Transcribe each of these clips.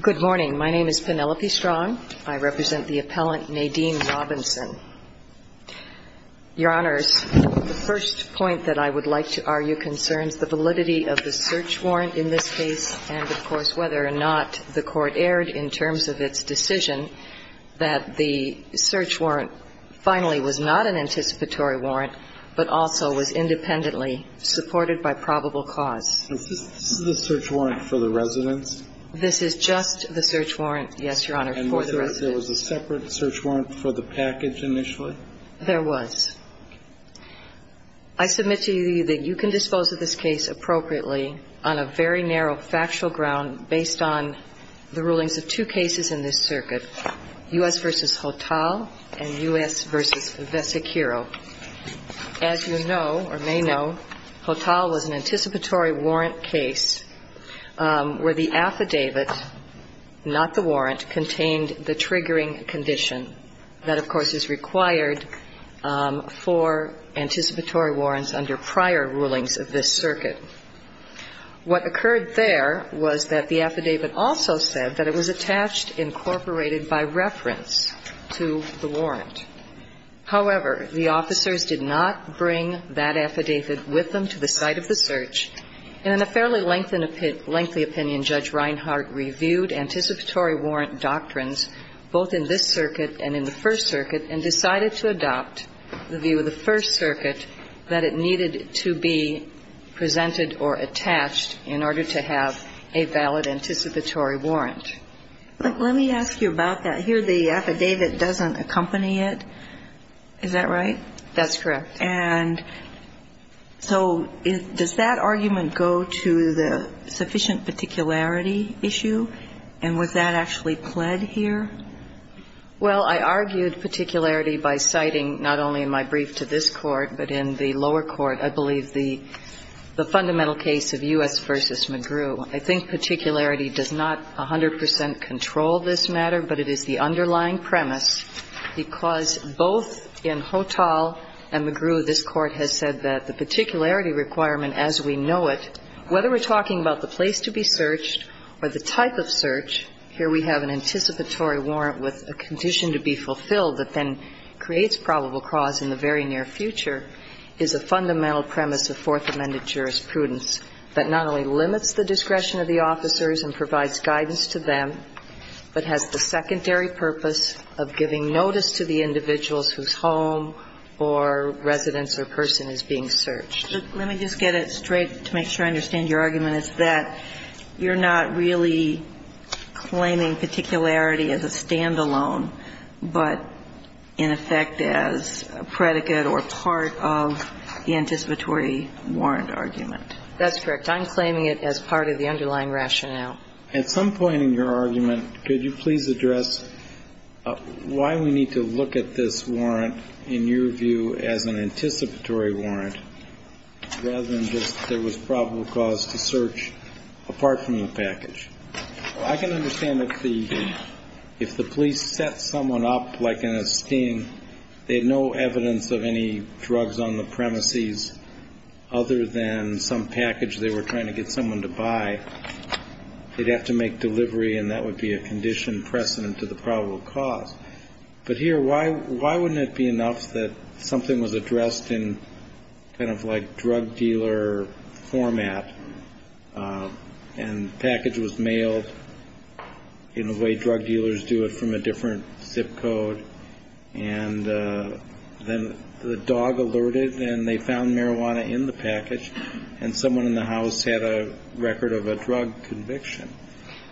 Good morning. My name is Penelope Strong. I represent the appellant, Nadine Robinson. Your Honors, the first point that I would like to argue concerns the validity of the search warrant in this case and, of course, whether or not the court erred in terms of its decision that the search warrant finally was not an anticipatory warrant but also was independently supported by probable cause. Is this the search warrant for the residence? This is just the search warrant, yes, Your Honor, for the residence. And was there a separate search warrant for the package initially? There was. I submit to you that you can dispose of this case appropriately on a very narrow factual ground based on the rulings of two cases in this circuit, U.S. v. Hotal and U.S. v. Vesichiro. As you know or may know, Hotal was an anticipatory warrant case where the affidavit, not the warrant, contained the triggering condition that, of course, is required for anticipatory warrants under prior rulings of this circuit. What occurred there was that the affidavit also said that it was attached, incorporated by reference to the warrant. However, the officers did not bring that affidavit with them to the site of the search. And in a fairly lengthy opinion, Judge Reinhart reviewed anticipatory warrant doctrines both in this circuit and in the First Circuit and decided to adopt the view of the First Circuit that it needed to be presented or attached in order to have a valid anticipatory warrant. Let me ask you about that. Here the affidavit doesn't accompany it. Is that right? That's correct. And so does that argument go to the sufficient particularity issue? And was that actually pled here? Well, I argued particularity by citing not only in my brief to this Court, but in the lower court, I believe, the fundamental case of U.S. v. McGrew. I think particularity does not 100 percent control this matter, but it is the underlying premise, because both in Hothall and McGrew, this Court has said that the particularity requirement as we know it, whether we're talking about the place to be searched or the type of search, here we have an anticipatory warrant with a condition to be fulfilled that then creates probable cause in the very near future, is a fundamental premise of Fourth Amendment jurisprudence that not only limits the discretion of the officers and provides guidance to them, but has the secondary purpose of giving notice to the individuals whose home or residence or person is being searched. Let me just get it straight to make sure I understand your argument, is that you're not really claiming particularity as a standalone, but in effect as a predicate or part of the anticipatory warrant argument? That's correct. I'm claiming it as part of the underlying rationale. At some point in your argument, could you please address why we need to look at this warrant in your view as an anticipatory warrant rather than just there was probable cause to search apart from the package? I can understand if the police set someone up like in a sting, they had no evidence of any drugs on the premises other than some package they were trying to get someone to buy, they'd have to make delivery and that would be a conditioned precedent to the probable cause. But here, why wouldn't it be enough that something was addressed in kind of like a drug dealer format and the package was mailed in a way drug dealers do it from a different zip code and then the dog alerted and they found marijuana in the package and someone in the house had a record of a drug conviction?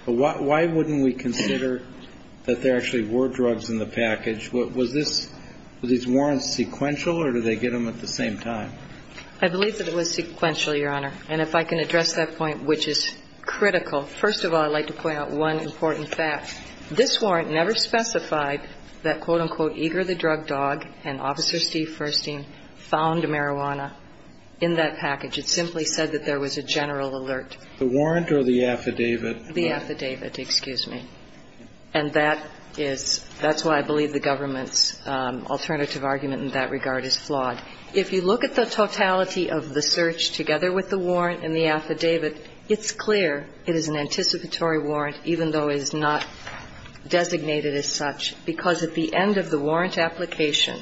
But why wouldn't we consider that there actually were drugs in the package? Was this warrant sequential or did they get them at the same time? I believe that it was sequential, Your Honor. And if I can address that point, which is critical. First of all, I'd like to point out one important fact. This warrant never specified that, quote, unquote, eager the drug dog and Officer Steve Furstein found marijuana in that package. It simply said that there was a general alert. The warrant or the affidavit? The affidavit, excuse me. And that is why I believe the government's alternative argument in that regard is flawed. If you look at the totality of the search together with the warrant and the affidavit, it's clear it is an anticipatory warrant, even though it is not designated as such, because at the end of the warrant application,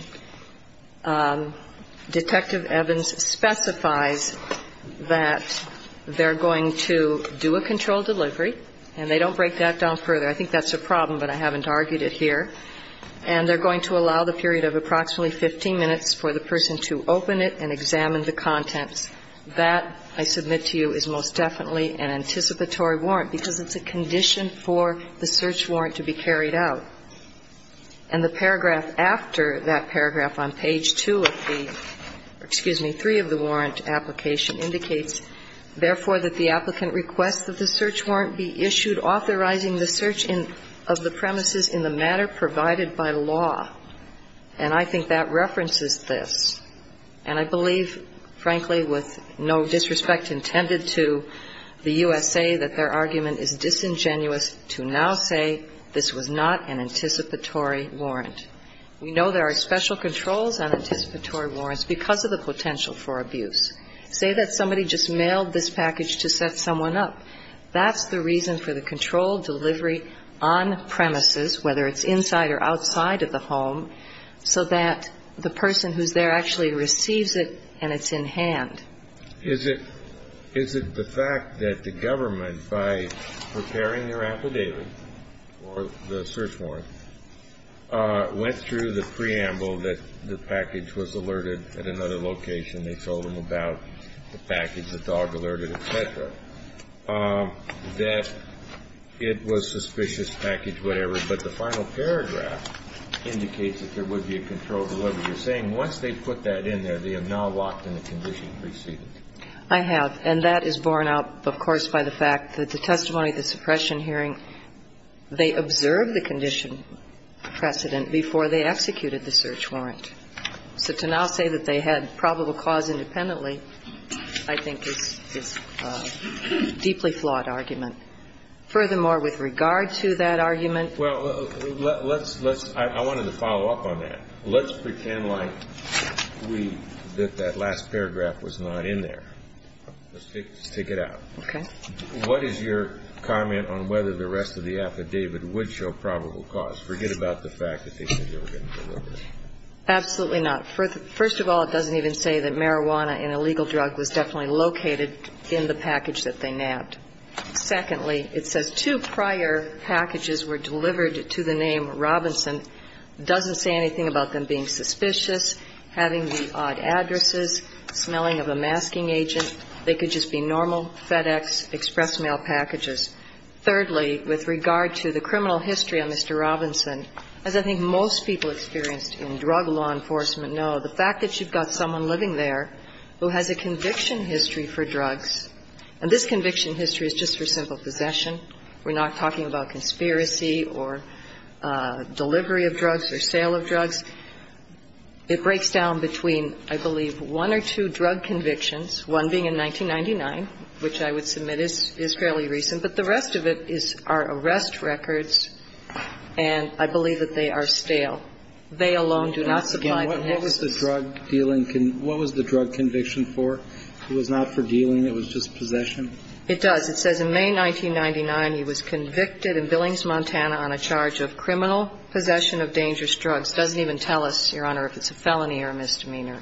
Detective Evans specifies that they're going to do a controlled delivery, and they don't break that down further. I think that's a problem, but I haven't argued it here. And they're going to allow the period of approximately 15 minutes for the person to open it and examine the contents. That, I submit to you, is most definitely an anticipatory warrant, because it's a condition for the search warrant to be carried out. And the paragraph after that paragraph on page 2 of the, excuse me, 3 of the warrant application indicates, therefore, that the applicant requests that the search warrant be issued authorizing the search of the premises in the matter provided by law. And I think that references this. And I believe, frankly, with no disrespect intended to the USA, that their argument is disingenuous to now say this was not an anticipatory warrant. We know there are special controls on anticipatory warrants because of the potential for abuse. Say that somebody just mailed this package to set someone up. That's the reason for the controlled delivery on premises, whether it's inside or outside of the home, so that the person who's there actually receives it and it's in hand. Is it the fact that the government, by preparing their affidavit or the search warrant, went through the preamble that the package was alerted at another location, and they told them about the package, the dog alerted, et cetera, that it was suspicious, package, whatever, but the final paragraph indicates that there would be a controlled delivery. You're saying once they put that in there, they are now locked in the condition precedence. I have. And that is borne out, of course, by the fact that the testimony at the suppression hearing, they observed the condition precedent before they executed the search warrant. So to now say that they had probable cause independently, I think, is a deeply flawed argument. Furthermore, with regard to that argument. Well, let's – I wanted to follow up on that. Let's pretend like we – that that last paragraph was not in there. Let's take it out. Okay. What is your comment on whether the rest of the affidavit would show probable cause? Forget about the fact that they said they were going to deliver it. Absolutely not. First of all, it doesn't even say that marijuana, an illegal drug, was definitely located in the package that they nabbed. Secondly, it says two prior packages were delivered to the name Robinson. It doesn't say anything about them being suspicious, having the odd addresses, smelling of a masking agent. They could just be normal FedEx express mail packages. Thirdly, with regard to the criminal history of Mr. Robinson, as I think most people experienced in drug law enforcement know, the fact that you've got someone living there who has a conviction history for drugs, and this conviction history is just for simple possession. We're not talking about conspiracy or delivery of drugs or sale of drugs. It breaks down between, I believe, one or two drug convictions, one being in 1999, which I would submit is fairly recent. But the rest of it is our arrest records, and I believe that they are stale. They alone do not supply the nexus. What was the drug dealing conviction for? It was not for dealing. It was just possession. It does. It says in May 1999, he was convicted in Billings, Montana, on a charge of criminal possession of dangerous drugs. It doesn't even tell us, Your Honor, if it's a felony or a misdemeanor.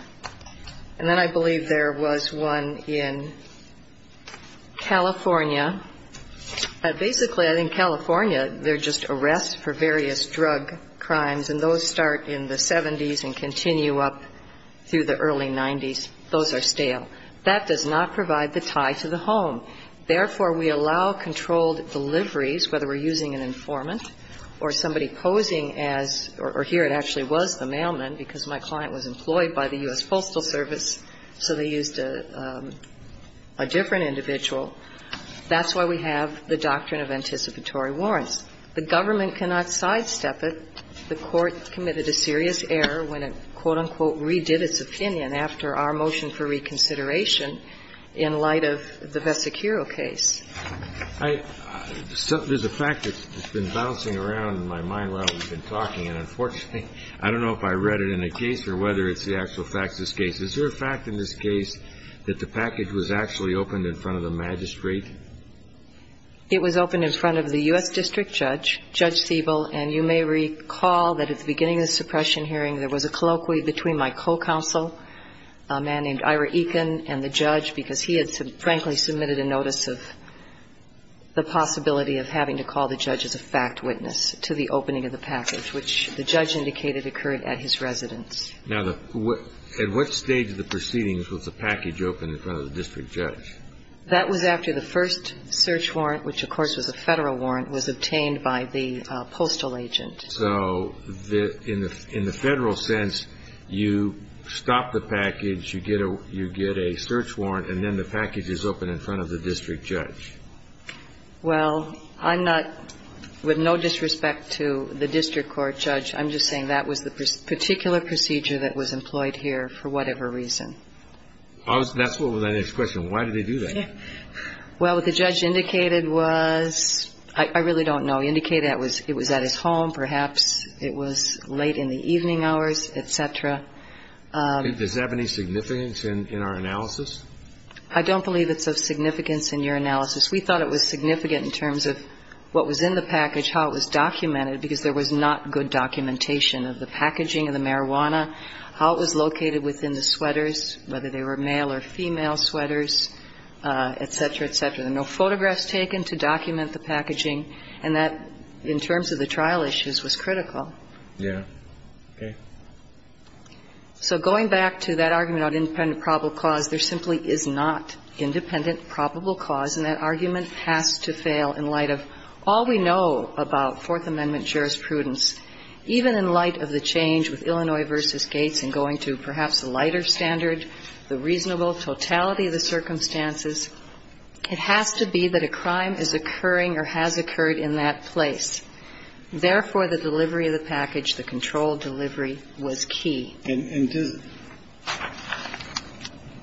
And then I believe there was one in California. Basically, in California, they're just arrests for various drug crimes, and those start in the 70s and continue up through the early 90s. Those are stale. That does not provide the tie to the home. Therefore, we allow controlled deliveries, whether we're using an informant or somebody posing as or here it actually was the mailman because my client was in the U.S. Postal Service, so they used a different individual. That's why we have the doctrine of anticipatory warrants. The government cannot sidestep it. The Court committed a serious error when it, quote, unquote, redid its opinion after our motion for reconsideration in light of the Vesicuro case. There's a fact that's been bouncing around in my mind while we've been talking, and unfortunately, I don't know if I read it in a case or whether it's the actual facts of this case. Is there a fact in this case that the package was actually opened in front of the magistrate? It was opened in front of the U.S. District Judge, Judge Siebel, and you may recall that at the beginning of the suppression hearing, there was a colloquy between my co-counsel, a man named Ira Eakin, and the judge, because he had, frankly, submitted a notice of the possibility of having to call the judge as a fact witness to the opening of the package, which the judge indicated occurred at his residence. Now, at what stage of the proceedings was the package opened in front of the district judge? That was after the first search warrant, which, of course, was a Federal warrant, was obtained by the postal agent. So in the Federal sense, you stop the package, you get a search warrant, and then the package is opened in front of the district judge. Well, I'm not – with no disrespect to the district court judge, I'm just saying that was the particular procedure that was employed here for whatever reason. That's what was my next question. Why did they do that? Well, what the judge indicated was – I really don't know. He indicated it was at his home, perhaps it was late in the evening hours, et cetera. Does that have any significance in our analysis? I don't believe it's of significance in your analysis. We thought it was significant in terms of what was in the package, how it was documented, because there was not good documentation of the packaging of the marijuana, how it was located within the sweaters, whether they were male or female sweaters, et cetera, et cetera. There were no photographs taken to document the packaging, and that, in terms of the trial issues, was critical. Yeah. Okay. So going back to that argument about independent probable cause, there simply is not independent probable cause, and that argument has to fail in light of all we know about Fourth Amendment jurisprudence. Even in light of the change with Illinois v. Gates and going to perhaps a lighter standard, the reasonable totality of the circumstances, it has to be that a crime is occurring or has occurred in that place. Therefore, the delivery of the package, the controlled delivery, was key. And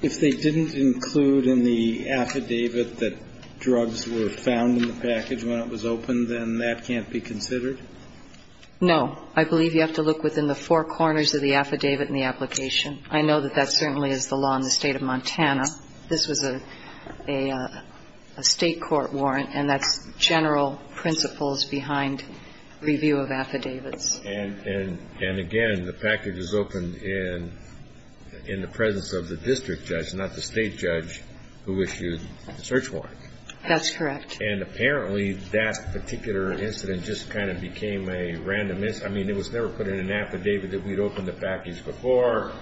if they didn't include in the affidavit that drugs were found in the package when it was opened, then that can't be considered? No. I believe you have to look within the four corners of the affidavit in the application. I know that that certainly is the law in the State of Montana. This was a State court warrant, and that's general principles behind review of affidavits. And, again, the package was opened in the presence of the district judge, not the State judge, who issued the search warrant. That's correct. And apparently that particular incident just kind of became a random incident. I mean, it was never put in an affidavit that we'd opened the package before.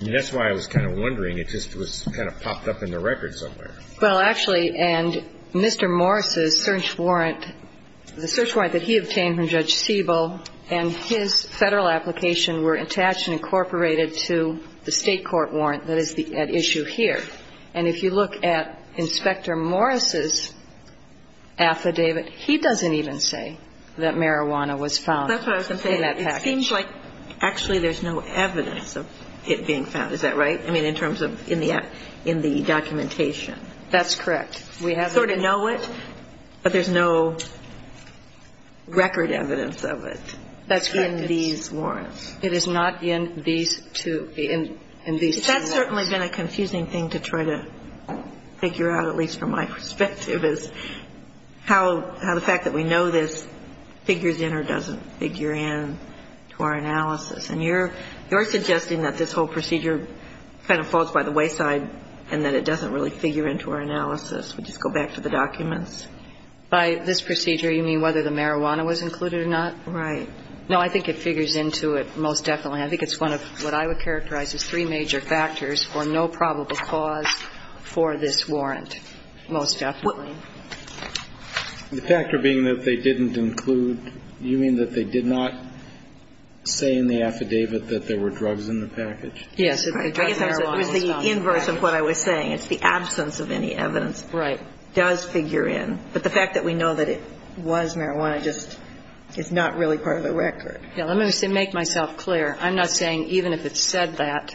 I mean, that's why I was kind of wondering. It just was kind of popped up in the record somewhere. Well, actually, and Mr. Morris' search warrant, the search warrant that he obtained from Judge Siebel and his Federal application were attached and incorporated to the State court warrant that is at issue here. And if you look at Inspector Morris' affidavit, he doesn't even say that marijuana was found in that package. It seems like actually there's no evidence of it being found. Is that right? I mean, in terms of in the documentation. That's correct. We have it. We sort of know it, but there's no record evidence of it. That's correct. In these warrants. It is not in these two warrants. That's certainly been a confusing thing to try to figure out, at least from my perspective, is how the fact that we know this figures in or doesn't figure in to our analysis. And you're suggesting that this whole procedure kind of falls by the wayside and that it doesn't really figure into our analysis. Would you go back to the documents? By this procedure, you mean whether the marijuana was included or not? Right. No, I think it figures into it most definitely. I think it's one of what I would characterize as three major factors for no probable cause for this warrant, most definitely. The factor being that they didn't include, you mean that they did not say in the affidavit that there were drugs in the package? Yes. It was the inverse of what I was saying. It's the absence of any evidence. Right. Does figure in. But the fact that we know that it was marijuana just is not really part of the record. Let me make myself clear. I'm not saying even if it said that,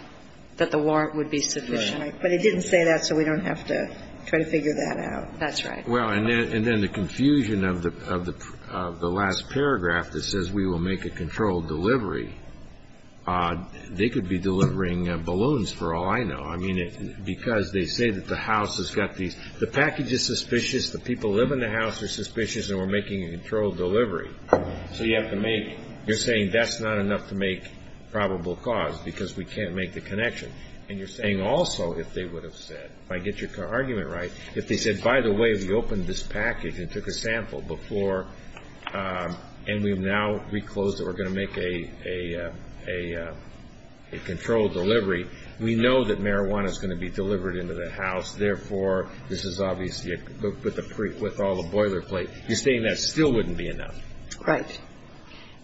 that the warrant would be sufficient. Right. But it didn't say that, so we don't have to try to figure that out. That's right. Well, and then the confusion of the last paragraph that says we will make a controlled delivery, they could be delivering balloons for all I know. I mean, because they say that the house has got these the package is suspicious, the people who live in the house are suspicious, and we're making a controlled delivery. So you have to make, you're saying that's not enough to make probable cause because we can't make the connection. And you're saying also if they would have said, if I get your argument right, if they said, by the way, we opened this package and took a sample before and we've now reclosed it, we're going to make a controlled delivery. We know that marijuana is going to be delivered into the house. Therefore, this is obviously with all the boilerplate. You're saying that still wouldn't be enough. Right.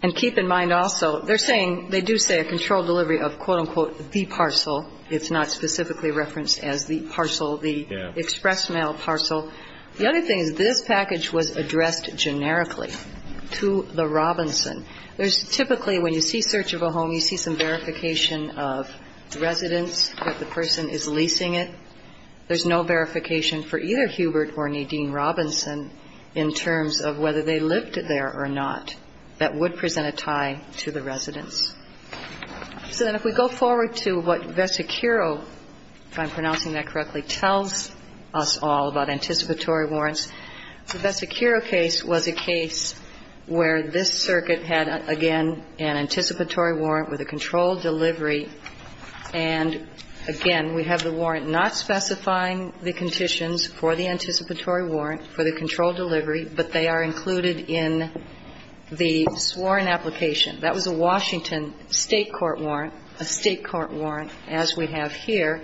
And keep in mind also, they're saying, they do say a controlled delivery of, quote, unquote, the parcel. It's not specifically referenced as the parcel, the express mail parcel. The other thing is this package was addressed generically to the Robinson. There's typically when you see search of a home, you see some verification of residence, that the person is leasing it. There's no verification for either Hubert or Nadine Robinson in terms of whether they lived there or not. That would present a tie to the residence. So then if we go forward to what Vesicuro, if I'm pronouncing that correctly, tells us all about anticipatory warrants. The Vesicuro case was a case where this circuit had, again, an anticipatory warrant with a controlled delivery. And, again, we have the warrant not specifying the conditions for the anticipatory warrant for the controlled delivery, but they are included in the sworn application. That was a Washington State court warrant, a State court warrant as we have here.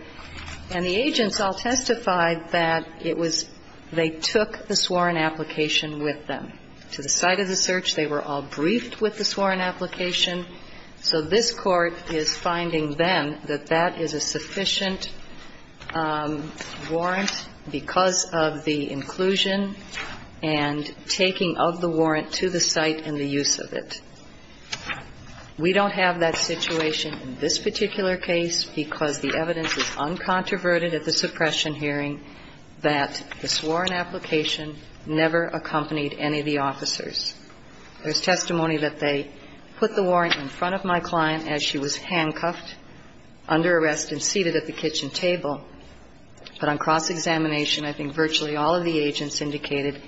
And the agents all testified that it was they took the sworn application with them to the site of the search. They were all briefed with the sworn application. So this Court is finding then that that is a sufficient warrant because of the inclusion and taking of the warrant to the site and the use of it. We don't have that situation in this particular case because the evidence is uncontroverted at the suppression hearing that the sworn application never accompanied any of the officers. There's testimony that they put the warrant in front of my client as she was handcuffed, under arrest and seated at the kitchen table. But on cross-examination, I think virtually all of the agents indicated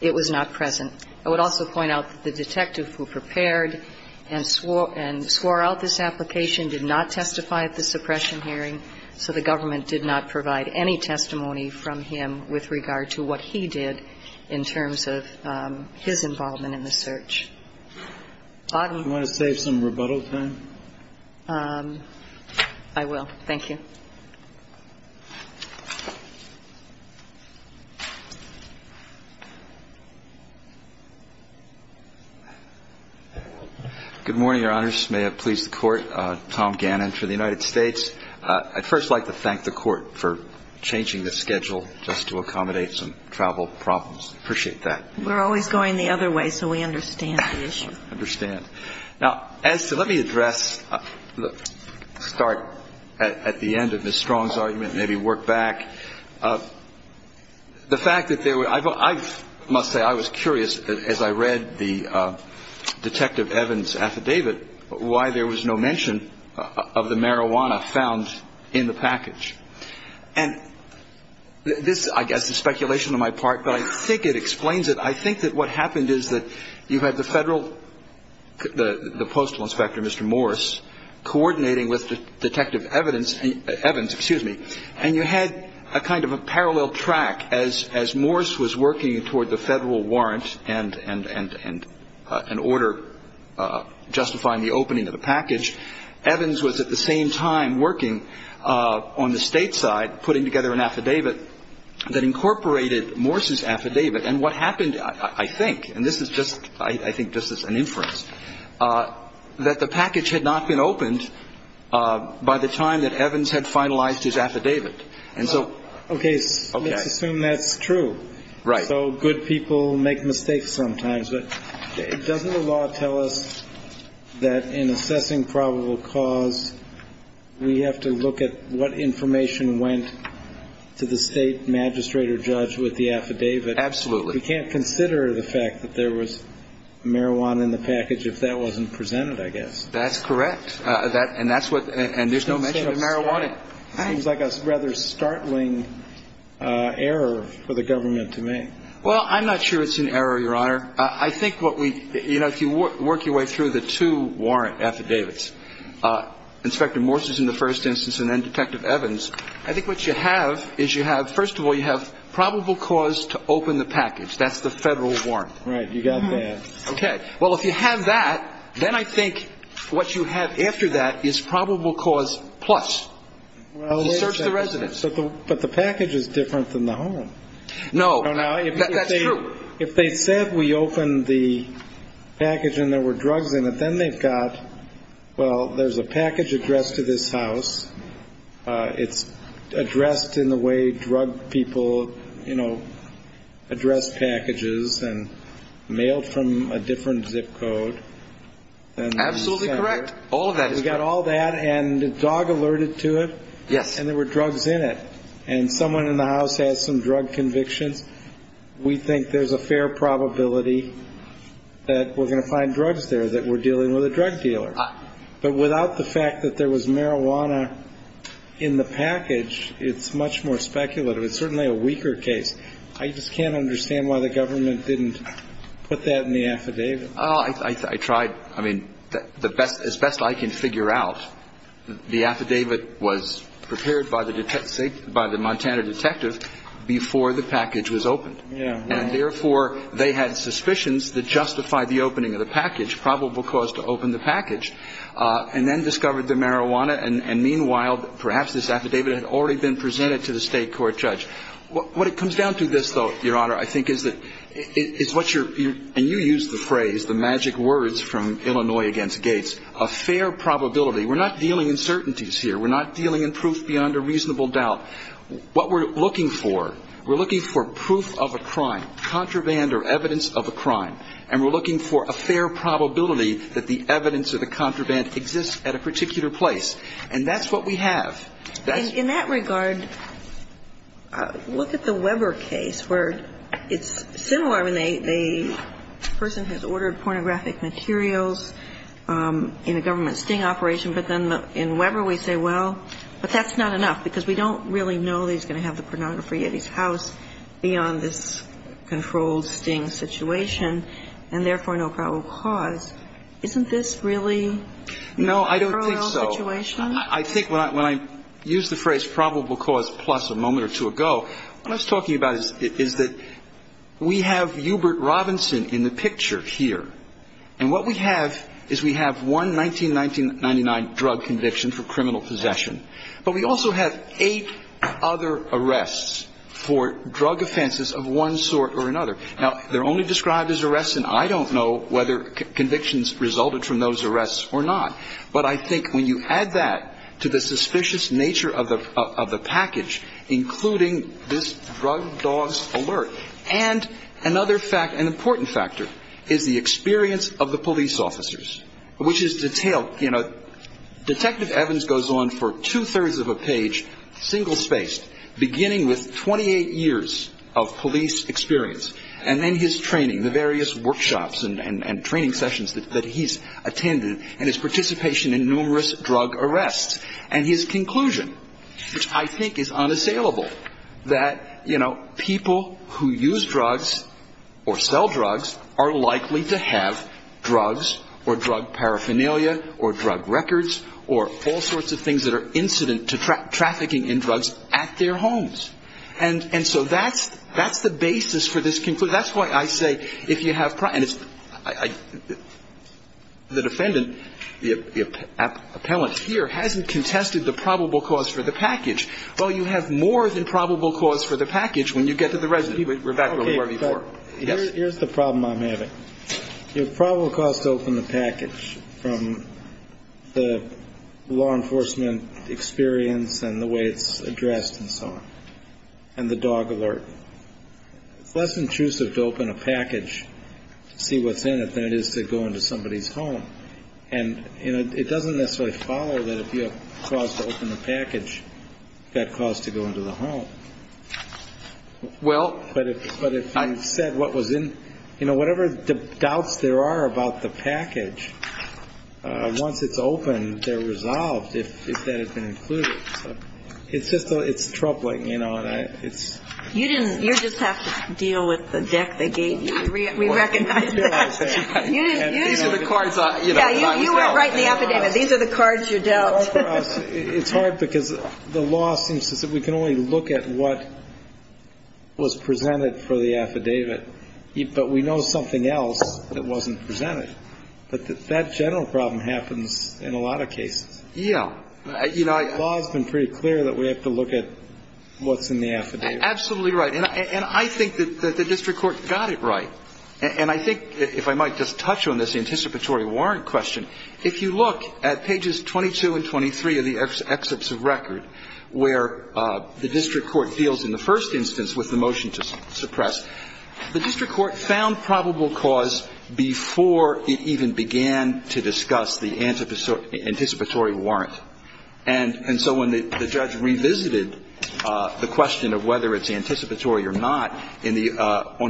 it was not present. I would also point out that the detective who prepared and swore out this application did not testify at the suppression hearing, so the government did not provide any testimony from him with regard to what he did in terms of his involvement in the search. Bottom. Do you want to save some rebuttal time? I will. Thank you. Good morning, Your Honors. May it please the Court. Tom Gannon for the United States. I'd first like to thank the Court for changing the schedule just to accommodate some travel problems. I appreciate that. We're always going the other way, so we understand the issue. I understand. Now, as to let me address, start at the end of Ms. Strong's argument, maybe work back. The fact that there were, I must say I was curious as I read the Detective Evans affidavit why there was no mention of the marijuana found in the package. And this, I guess, is speculation on my part, but I think it explains it. I think that what happened is that you had the Federal, the Postal Inspector, Mr. Morris, coordinating with Detective Evans, and you had a kind of a parallel track. As Morris was working toward the Federal warrant and an order justifying the opening of the package, Evans was at the same time working on the State side putting together an affidavit that incorporated Morris's affidavit. And what happened, I think, and this is just, I think this is an inference, that the package had not been opened by the time that Evans had finalized his affidavit. And so. Okay. Let's assume that's true. Right. So good people make mistakes sometimes. But doesn't the law tell us that in assessing probable cause, we have to look at what information went to the State magistrate or judge with the affidavit? Absolutely. We can't consider the fact that there was marijuana in the package if that wasn't presented, I guess. That's correct. And that's what, and there's no mention of marijuana. Seems like a rather startling error for the government to make. Well, I'm not sure it's an error, Your Honor. I think what we, you know, if you work your way through the two warrant affidavits, Inspector Morris's in the first instance and then Detective Evans, I think what you have is you have, first of all, you have probable cause to open the package. That's the federal warrant. Right. You got that. Okay. Well, if you have that, then I think what you have after that is probable cause plus. To search the residence. But the package is different than the home. No. That's true. If they said we opened the package and there were drugs in it, then they've got, well, there's a package addressed to this house. It's addressed in the way drug people, you know, address packages and mailed from a different zip code. Absolutely correct. All of that is correct. We got all that and a dog alerted to it. Yes. And there were drugs in it. And someone in the house has some drug convictions. We think there's a fair probability that we're going to find drugs there that we're dealing with a drug dealer. But without the fact that there was marijuana in the package, it's much more speculative. It's certainly a weaker case. I just can't understand why the government didn't put that in the affidavit. I tried. I mean, the best, as best I can figure out, the affidavit was prepared by the Montana detective before the package was opened. And, therefore, they had suspicions that justified the opening of the package, probable cause to open the package, and then discovered the marijuana. And, meanwhile, perhaps this affidavit had already been presented to the state court judge. What it comes down to this, though, Your Honor, I think is that it's what you're – and you used the phrase, the magic words from Illinois against Gates, a fair probability. We're not dealing in certainties here. We're not dealing in proof beyond a reasonable doubt. What we're looking for, we're looking for proof of a crime, contraband or evidence of a crime. And we're looking for a fair probability that the evidence of the contraband exists at a particular place. And that's what we have. In that regard, look at the Weber case where it's similar. I mean, the person has ordered pornographic materials in a government sting operation, but then in Weber we say, well, but that's not enough, because we don't really know that he's going to have the pornography at his house beyond this controlled sting situation, and, therefore, no probable cause. Isn't this really a parallel situation? No, I don't think so. I think when I used the phrase probable cause plus a moment or two ago, what I was talking about is that we have Hubert Robinson in the picture here, and what we have is we have one 1999 drug conviction for criminal possession, but we also have eight other arrests for drug offenses of one sort or another. Now, they're only described as arrests, and I don't know whether convictions resulted from those arrests or not, but I think when you add that to the suspicious nature of the package, including this drug dogs alert, and another important factor is the experience of the police officers, which is detailed. You know, Detective Evans goes on for two-thirds of a page, single-spaced, beginning with 28 years of police experience, and then his training, the various workshops and training sessions that he's attended, and his participation in numerous drug arrests, and his conclusion, which I think is unassailable, that, you know, people who use drugs or sell drugs are likely to have drugs or drug paraphernalia or drug records or all sorts of things that are incident to trafficking in drugs at their homes. And so that's the basis for this conclusion. So that's why I say if you have – and it's – the defendant, the appellant here, hasn't contested the probable cause for the package. Well, you have more than probable cause for the package when you get to the resident. We're back to where we were before. Yes? Here's the problem I'm having. The probable cause to open the package from the law enforcement experience and the way it's addressed and so on, and the dog alert, it's less intrusive to open a package to see what's in it than it is to go into somebody's home. And, you know, it doesn't necessarily follow that if you have a cause to open the package, you've got a cause to go into the home. Well – But if you said what was in – you know, whatever doubts there are about the package, once it's opened, they're resolved if that had been included. It's just – it's troubling, you know, and I – it's – You didn't – you just have to deal with the deck they gave you. We recognize that. These are the cards I'm – Yeah, you weren't right in the affidavit. These are the cards you dealt. It's hard for us. It's hard because the law seems to say we can only look at what was presented for the affidavit, but we know something else that wasn't presented. But that general problem happens in a lot of cases. Yeah. You know, I – The law has been pretty clear that we have to look at what's in the affidavit. Absolutely right. And I think that the district court got it right. And I think, if I might just touch on this anticipatory warrant question, if you look at pages 22 and 23 of the excerpts of record, where the district court deals in the first instance with the motion to suppress, the district court found probable cause before it even began to discuss the anticipatory warrant. And so when the judge revisited the question of whether it's anticipatory or not on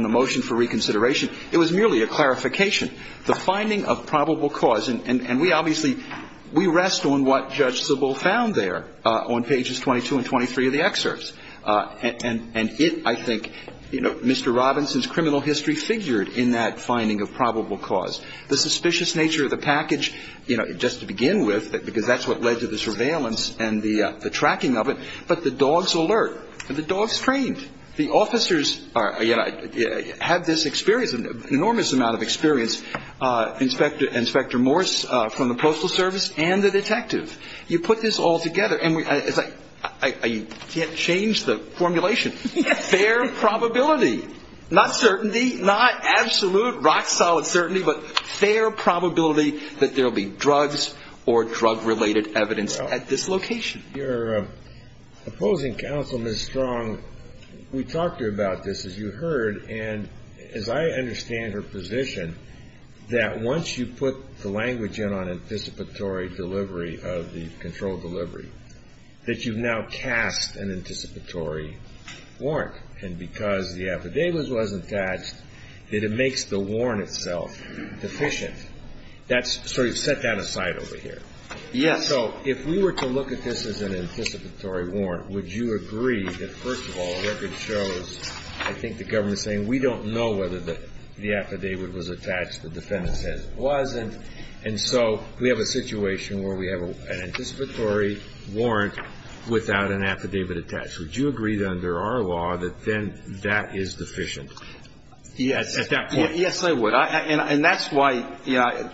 the motion for reconsideration, it was merely a clarification. The finding of probable cause, and we obviously – we rest on what Judge Sybil found there on pages 22 and 23 of the excerpts. And it, I think, Mr. Robinson's criminal history figured in that finding of probable cause. The suspicious nature of the package, you know, just to begin with, because that's what led to the surveillance and the tracking of it, but the dog's alert. The dog's trained. The officers have this experience, an enormous amount of experience, Inspector Morse from the Postal Service and the detective. You put this all together, and I can't change the formulation. Fair probability. Not certainty, not absolute rock-solid certainty, but fair probability that there will be drugs or drug-related evidence at this location. Your opposing counsel, Ms. Strong, we talked to her about this, as you heard, and as I understand her position, that once you put the language in on anticipatory delivery of the controlled delivery, that you've now cast an anticipatory warrant. And because the affidavit wasn't attached, that it makes the warrant itself deficient. That's sort of set that aside over here. Yes. So if we were to look at this as an anticipatory warrant, would you agree that, first of all, the record shows, I think the government's saying, we don't know whether the affidavit was attached, the defendant said it wasn't, and so we have a situation where we have an anticipatory warrant without an affidavit attached. Would you agree, then, under our law, that then that is deficient? Yes. At that point. Yes, I would. And that's why, you know,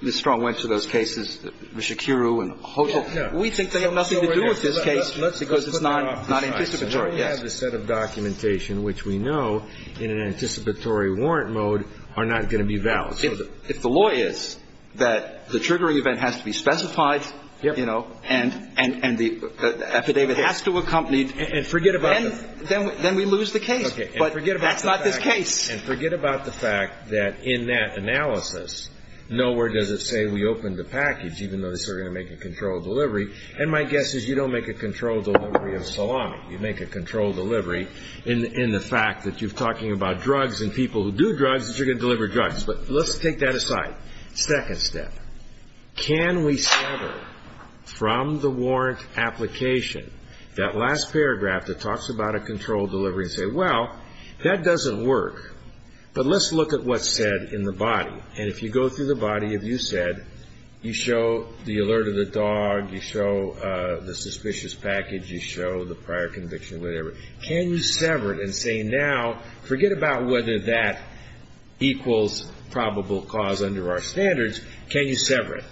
Ms. Strong went to those cases, Rishikiru and Hotel. We think they have nothing to do with this case because it's not anticipatory. We have a set of documentation which we know, in an anticipatory warrant mode, are not going to be valid. If the law is that the triggering event has to be specified, you know, and the affidavit has to accompany it, then we lose the case. Okay. But that's not this case. And forget about the fact that in that analysis, nowhere does it say we opened the package, even though they say we're going to make a controlled delivery, and my guess is you don't make a controlled delivery of salami. You make a controlled delivery in the fact that you're talking about drugs and people who do drugs that you're going to deliver drugs. But let's take that aside. Second step, can we sever from the warrant application that last paragraph that talks about a controlled delivery and say, well, that doesn't work, but let's look at what's said in the body. And if you go through the body, if you said you show the alert of the dog, you show the suspicious package, you show the prior conviction, whatever, can you sever it and say, now, forget about whether that equals probable cause under our standards, can you sever it?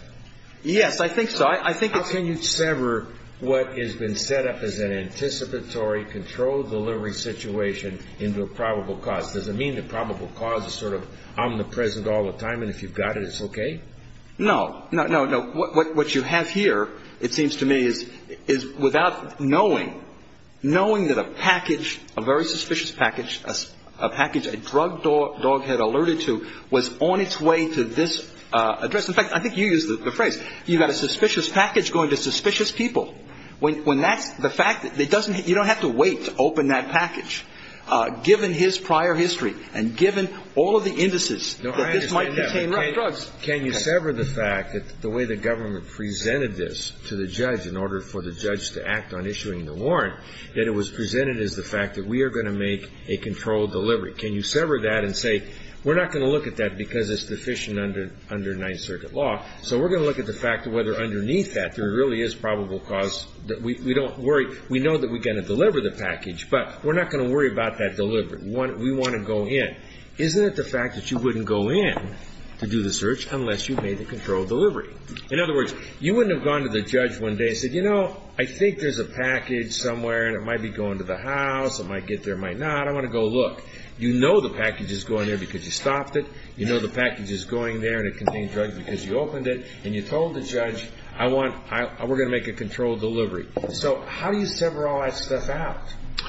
Yes, I think so. I think it's... Can you sever what has been set up as an anticipatory controlled delivery situation into a probable cause? Does it mean that probable cause is sort of omnipresent all the time and if you've got it, it's okay? No. No, no, no. What you have here, it seems to me, is without knowing, knowing that a package, a very suspicious package, a package a drug dog had alerted to was on its way to this address. In fact, I think you used the phrase, you've got a suspicious package going to suspicious people. When that's the fact, you don't have to wait to open that package, given his prior history and given all of the indices that this might contain drugs. Well, can you sever the fact that the way the government presented this to the judge in order for the judge to act on issuing the warrant, that it was presented as the fact that we are going to make a controlled delivery? Can you sever that and say, we're not going to look at that because it's deficient under Ninth Circuit law, so we're going to look at the fact of whether underneath that there really is probable cause that we don't worry. We know that we're going to deliver the package, but we're not going to worry about that delivery. We want to go in. Isn't it the fact that you wouldn't go in to do the search unless you made the controlled delivery? In other words, you wouldn't have gone to the judge one day and said, you know, I think there's a package somewhere and it might be going to the house, it might get there, it might not. I want to go look. You know the package is going there because you stopped it. You know the package is going there and it contains drugs because you opened it. And you told the judge, we're going to make a controlled delivery. So how do you sever all that stuff out?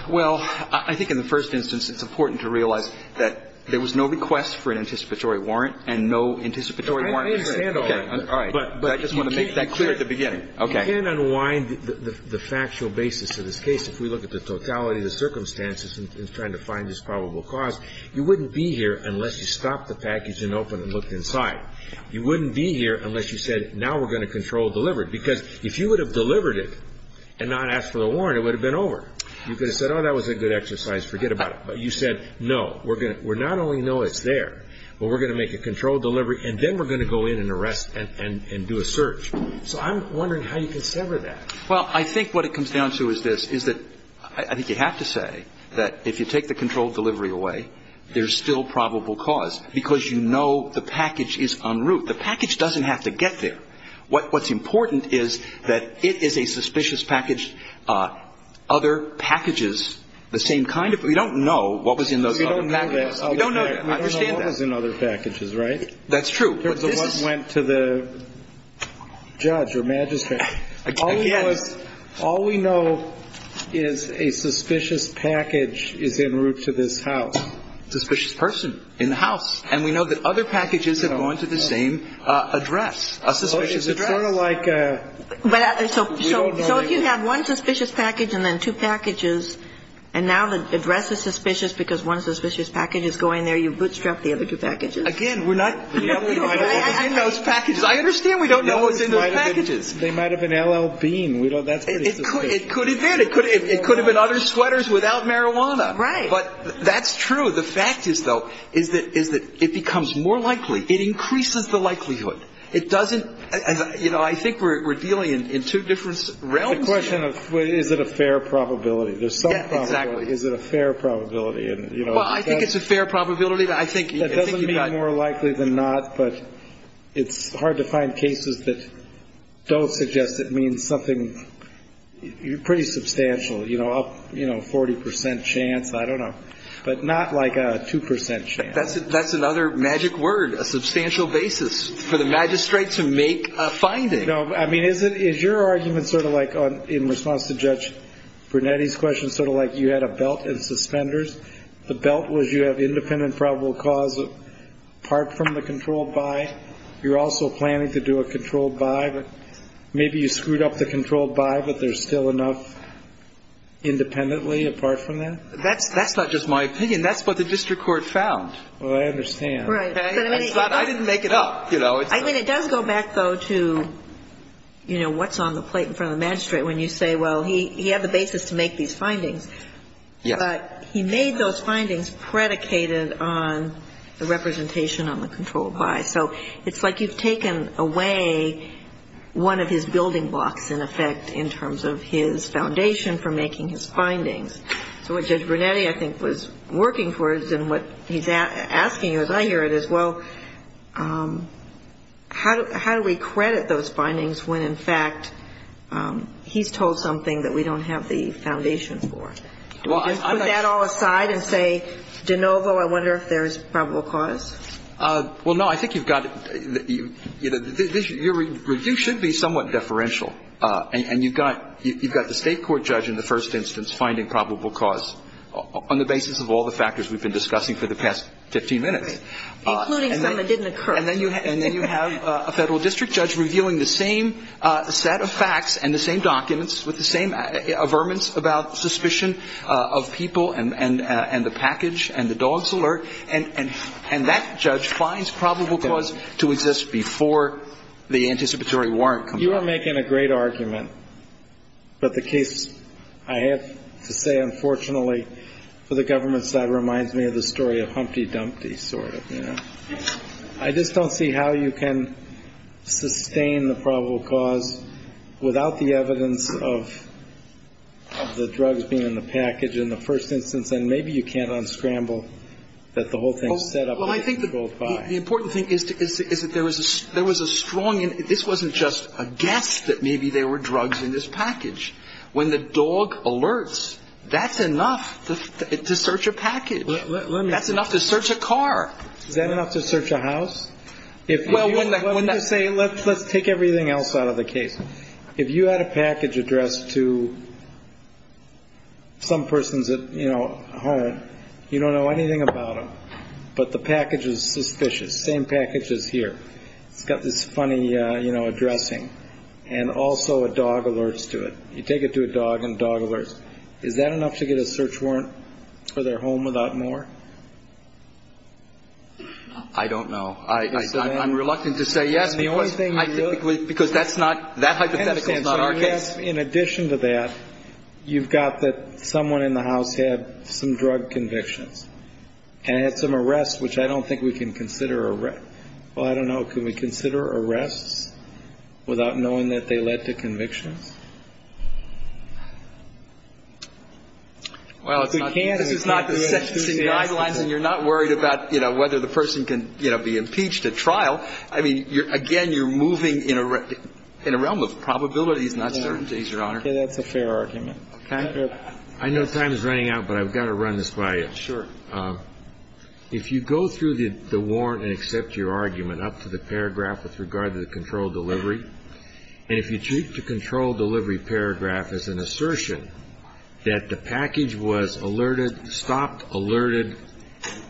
Well, I think in the first instance it's important to realize that there was no request for an anticipatory warrant and no anticipatory warrant. I understand all that. All right. But I just want to make that clear at the beginning. Okay. You can't unwind the factual basis of this case if we look at the totality of the circumstances in trying to find this probable cause. You wouldn't be here unless you stopped the package and opened it and looked inside. You wouldn't be here unless you said, now we're going to control delivery. Because if you would have delivered it and not asked for the warrant, it would have been over. You could have said, oh, that was a good exercise, forget about it. But you said, no, we're not only going to know it's there, but we're going to make a controlled delivery and then we're going to go in and arrest and do a search. So I'm wondering how you can sever that. Well, I think what it comes down to is this, is that I think you have to say that if you take the controlled delivery away, there's still probable cause because you know the package is en route. The package doesn't have to get there. What's important is that it is a suspicious package. Other packages, the same kind of, we don't know what was in those other packages. We don't know that. I don't know what was in other packages, right? That's true. What went to the judge or magistrate. Again. All we know is a suspicious package is en route to this house. A suspicious person in the house. And we know that other packages have gone to the same address. A suspicious address. It's sort of like a... So if you have one suspicious package and then two packages, and now the address is suspicious because one suspicious package is going there, you bootstrap the other two packages. Again, we're not... We don't know what was in those packages. I understand we don't know what was in those packages. They might have been L.L. Bean. It could have been. It could have been other sweaters without marijuana. Right. But that's true. The fact is, though, is that it becomes more likely. It increases the likelihood. It doesn't. You know, I think we're dealing in two different realms here. The question of is it a fair probability. There's some probability. Yeah, exactly. Is it a fair probability? Well, I think it's a fair probability. I think... It doesn't mean more likely than not, but it's hard to find cases that don't suggest it means something pretty substantial, you know, a 40 percent chance. I don't know. But not like a 2 percent chance. That's another magic word. A substantial basis for the magistrate to make a finding. No. I mean, is your argument sort of like in response to Judge Brunetti's question, sort of like you had a belt in suspenders? The belt was you have independent probable cause apart from the controlled buy. You're also planning to do a controlled buy, but maybe you screwed up the controlled buy, but there's still enough independently apart from that? That's not just my opinion. That's what the district court found. Well, I understand. I didn't make it up, you know. I mean, it does go back, though, to, you know, what's on the plate in front of the magistrate when you say, well, he had the basis to make these findings. Yes. But he made those findings predicated on the representation on the controlled buy. So it's like you've taken away one of his building blocks, in effect, in terms of his foundation for making his findings. So what Judge Brunetti, I think, was working towards and what he's asking, as I hear it, is, well, how do we credit those findings when, in fact, he's told something that we don't have the foundation for? Do we just put that all aside and say, de novo, I wonder if there's probable cause? Well, no. I think you've got it. Your review should be somewhat deferential. And you've got the state court judge in the first instance finding probable cause on the basis of all the factors we've been discussing for the past 15 minutes. Including some that didn't occur. And then you have a Federal district judge reviewing the same set of facts and the same documents with the same averments about suspicion of people and the package and the dog's alert. And that judge finds probable cause to exist before the anticipatory warrant comes You are making a great argument. But the case, I have to say, unfortunately, for the government side reminds me of the story of Humpty Dumpty, sort of, you know. I just don't see how you can sustain the probable cause without the evidence of the drugs being in the package in the first instance. And maybe you can't unscramble that the whole thing is set up. Well, I think the important thing is that there was a strong. This wasn't just a guess that maybe there were drugs in this package. When the dog alerts, that's enough to search a package. That's enough to search a car. Is that enough to search a house? Let's take everything else out of the case. If you had a package addressed to some persons at home, you don't know anything about them, but the package is suspicious. Same package as here. It's got this funny, you know, addressing. And also a dog alerts to it. You take it to a dog and a dog alerts. Is that enough to get a search warrant for their home without more? I don't know. I'm reluctant to say yes. Because that's not, that hypothetical is not our case. In addition to that, you've got that someone in the house had some drug convictions. And had some arrests, which I don't think we can consider arrests. Well, I don't know. Can we consider arrests without knowing that they led to convictions? Well, if we can't. This is not the sentencing guidelines and you're not worried about, you know, I mean, again, you're moving in a realm of probabilities, not certainties, Your Honor. That's a fair argument. I know time is running out, but I've got to run this by you. Sure. If you go through the warrant and accept your argument up to the paragraph with regard to the controlled delivery, and if you treat the controlled delivery paragraph as an assertion that the package was alerted, stopped, alerted,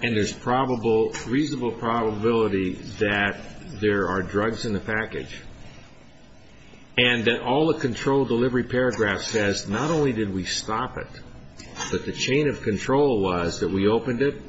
and there's probable, reasonable probability that there are drugs in the package, and that all the controlled delivery paragraph says not only did we stop it, but the chain of control was that we opened it.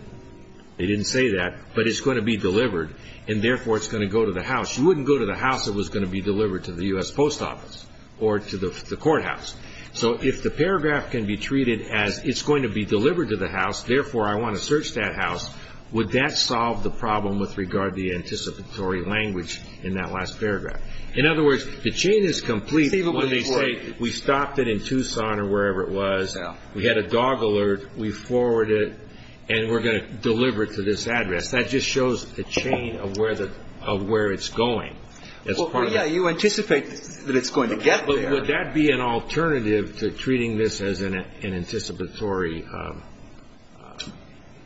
They didn't say that. But it's going to be delivered, and therefore it's going to go to the house. You wouldn't go to the house that was going to be delivered to the U.S. Post Office or to the courthouse. So if the paragraph can be treated as it's going to be delivered to the house, therefore I want to search that house, would that solve the problem with regard to the anticipatory language in that last paragraph? In other words, the chain is complete when they say we stopped it in Tucson or wherever it was, we had a dog alert, we forwarded it, and we're going to deliver it to this address. That just shows the chain of where it's going. Well, yeah, you anticipate that it's going to get there. But would that be an alternative to treating this as an anticipatory?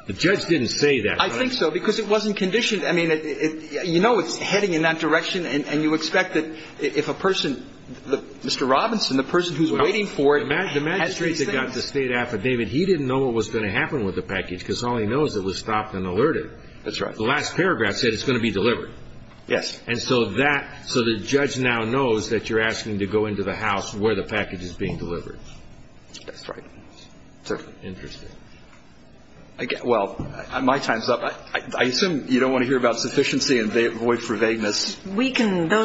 The judge didn't say that, right? I think so, because it wasn't conditioned. I mean, you know it's heading in that direction, and you expect that if a person Mr. Robinson, the person who's waiting for it has these things. The magistrate that got the State Affidavit, he didn't know what was going to happen with the package because all he knows it was stopped and alerted. That's right. The last paragraph said it's going to be delivered. Yes. And so the judge now knows that you're asking to go into the house where the package is being delivered. That's right. Interesting. Well, my time's up. I assume you don't want to hear about sufficiency and void for vagueness. Those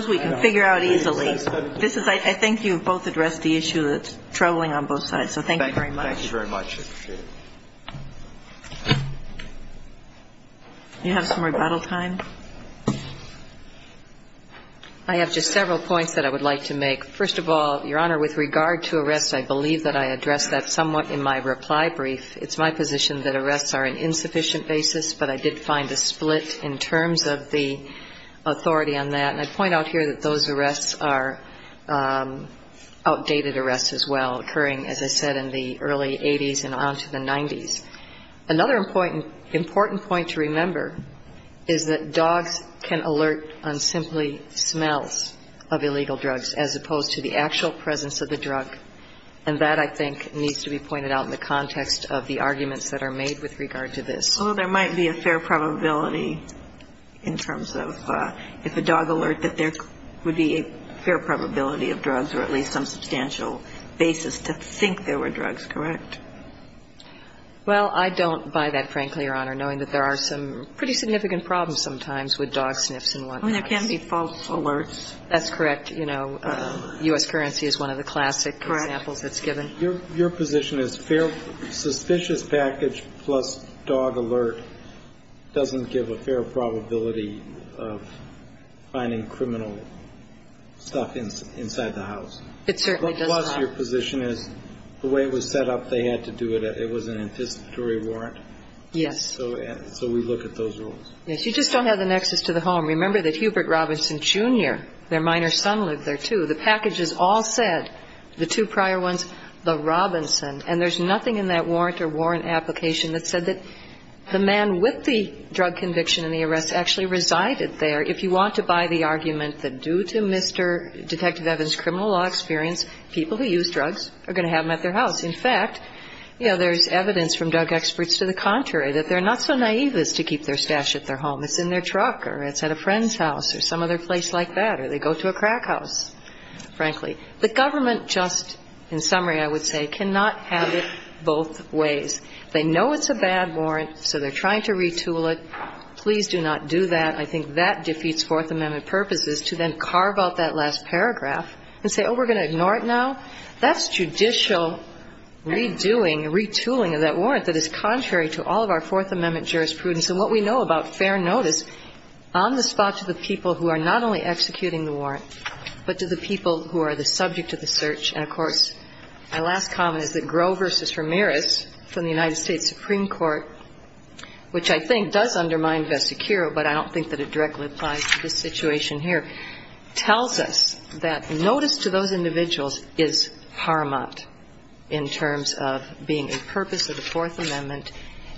we can figure out easily. I think you've both addressed the issue that's troubling on both sides. So thank you very much. Thank you very much. I appreciate it. Do you have some rebuttal time? I have just several points that I would like to make. First of all, Your Honor, with regard to arrests, I believe that I addressed that somewhat in my reply brief. It's my position that arrests are an insufficient basis, but I did find a split in terms of the authority on that. And I point out here that those arrests are outdated arrests as well, occurring, as I said, in the early 80s and on to the 90s. Another important point to remember is that dogs can alert on simply smells of illegal drugs, as opposed to the actual presence of the drug, and that, I think, needs to be pointed out in the context of the arguments that are made with regard to this. Although there might be a fair probability in terms of if a dog alert that there would be a fair probability of drugs or at least some substantial basis to think there were drugs, correct? Well, I don't buy that, frankly, Your Honor, knowing that there are some pretty significant problems sometimes with dog sniffs and whatnot. I mean, there can be false alerts. That's correct. You know, U.S. currency is one of the classic examples that's given. Correct. Your position is suspicious package plus dog alert doesn't give a fair probability of finding criminal stuff inside the house. It certainly doesn't. Plus your position is the way it was set up, they had to do it. It was an anticipatory warrant. Yes. So we look at those rules. Yes. You just don't have the nexus to the home. Remember that Hubert Robinson, Jr., their minor son, lived there, too. The packages all said, the two prior ones, the Robinson. And there's nothing in that warrant or warrant application that said that the man with the drug conviction and the arrest actually resided there. And so, Your Honor, if you want to buy the argument that due to Mr. Detective Evans' criminal law experience, people who use drugs are going to have them at their house, in fact, you know, there's evidence from drug experts to the contrary, that they're not so naive as to keep their stash at their home. It's in their truck or it's at a friend's house or some other place like that or they go to a crack house, frankly. The government just, in summary, I would say, cannot have it both ways. They know it's a bad warrant, so they're trying to retool it. Please do not do that. I think that defeats Fourth Amendment purposes to then carve out that last paragraph and say, oh, we're going to ignore it now. That's judicial redoing, retooling of that warrant that is contrary to all of our Fourth Amendment jurisprudence. And what we know about fair notice on the spot to the people who are not only executing the warrant, but to the people who are the subject of the search. And, of course, my last comment is that Groh v. Ramirez from the United States Supreme Court, which I think does undermine Vesicuro, but I don't think that it directly applies to this situation here, tells us that notice to those individuals is paramount in terms of being a purpose of the Fourth Amendment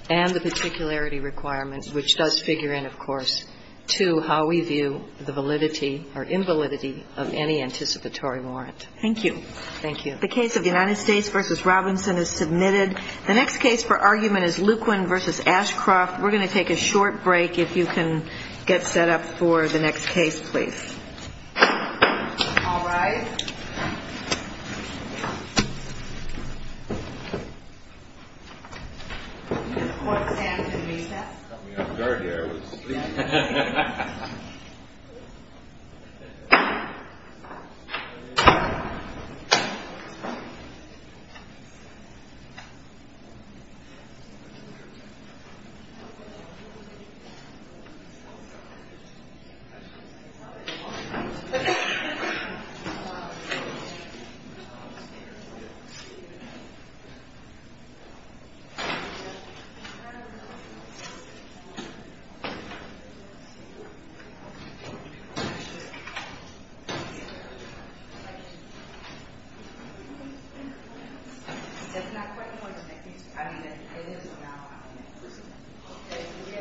and the particularity requirements, which does figure in, of course, to how we view the validity or invalidity of any anticipatory warrant. Thank you. Thank you. The case of the United States v. Robinson is submitted. The next case for argument is Luquin v. Ashcroft. We're going to take a short break. If you can get set up for the next case, please. All rise. I'm going to put Sam to recess. Got me on guard here. I was sleeping. Thank you. That's not quite the one that makes me—I mean, it is about— This is not the one. Okay. We'll get her again.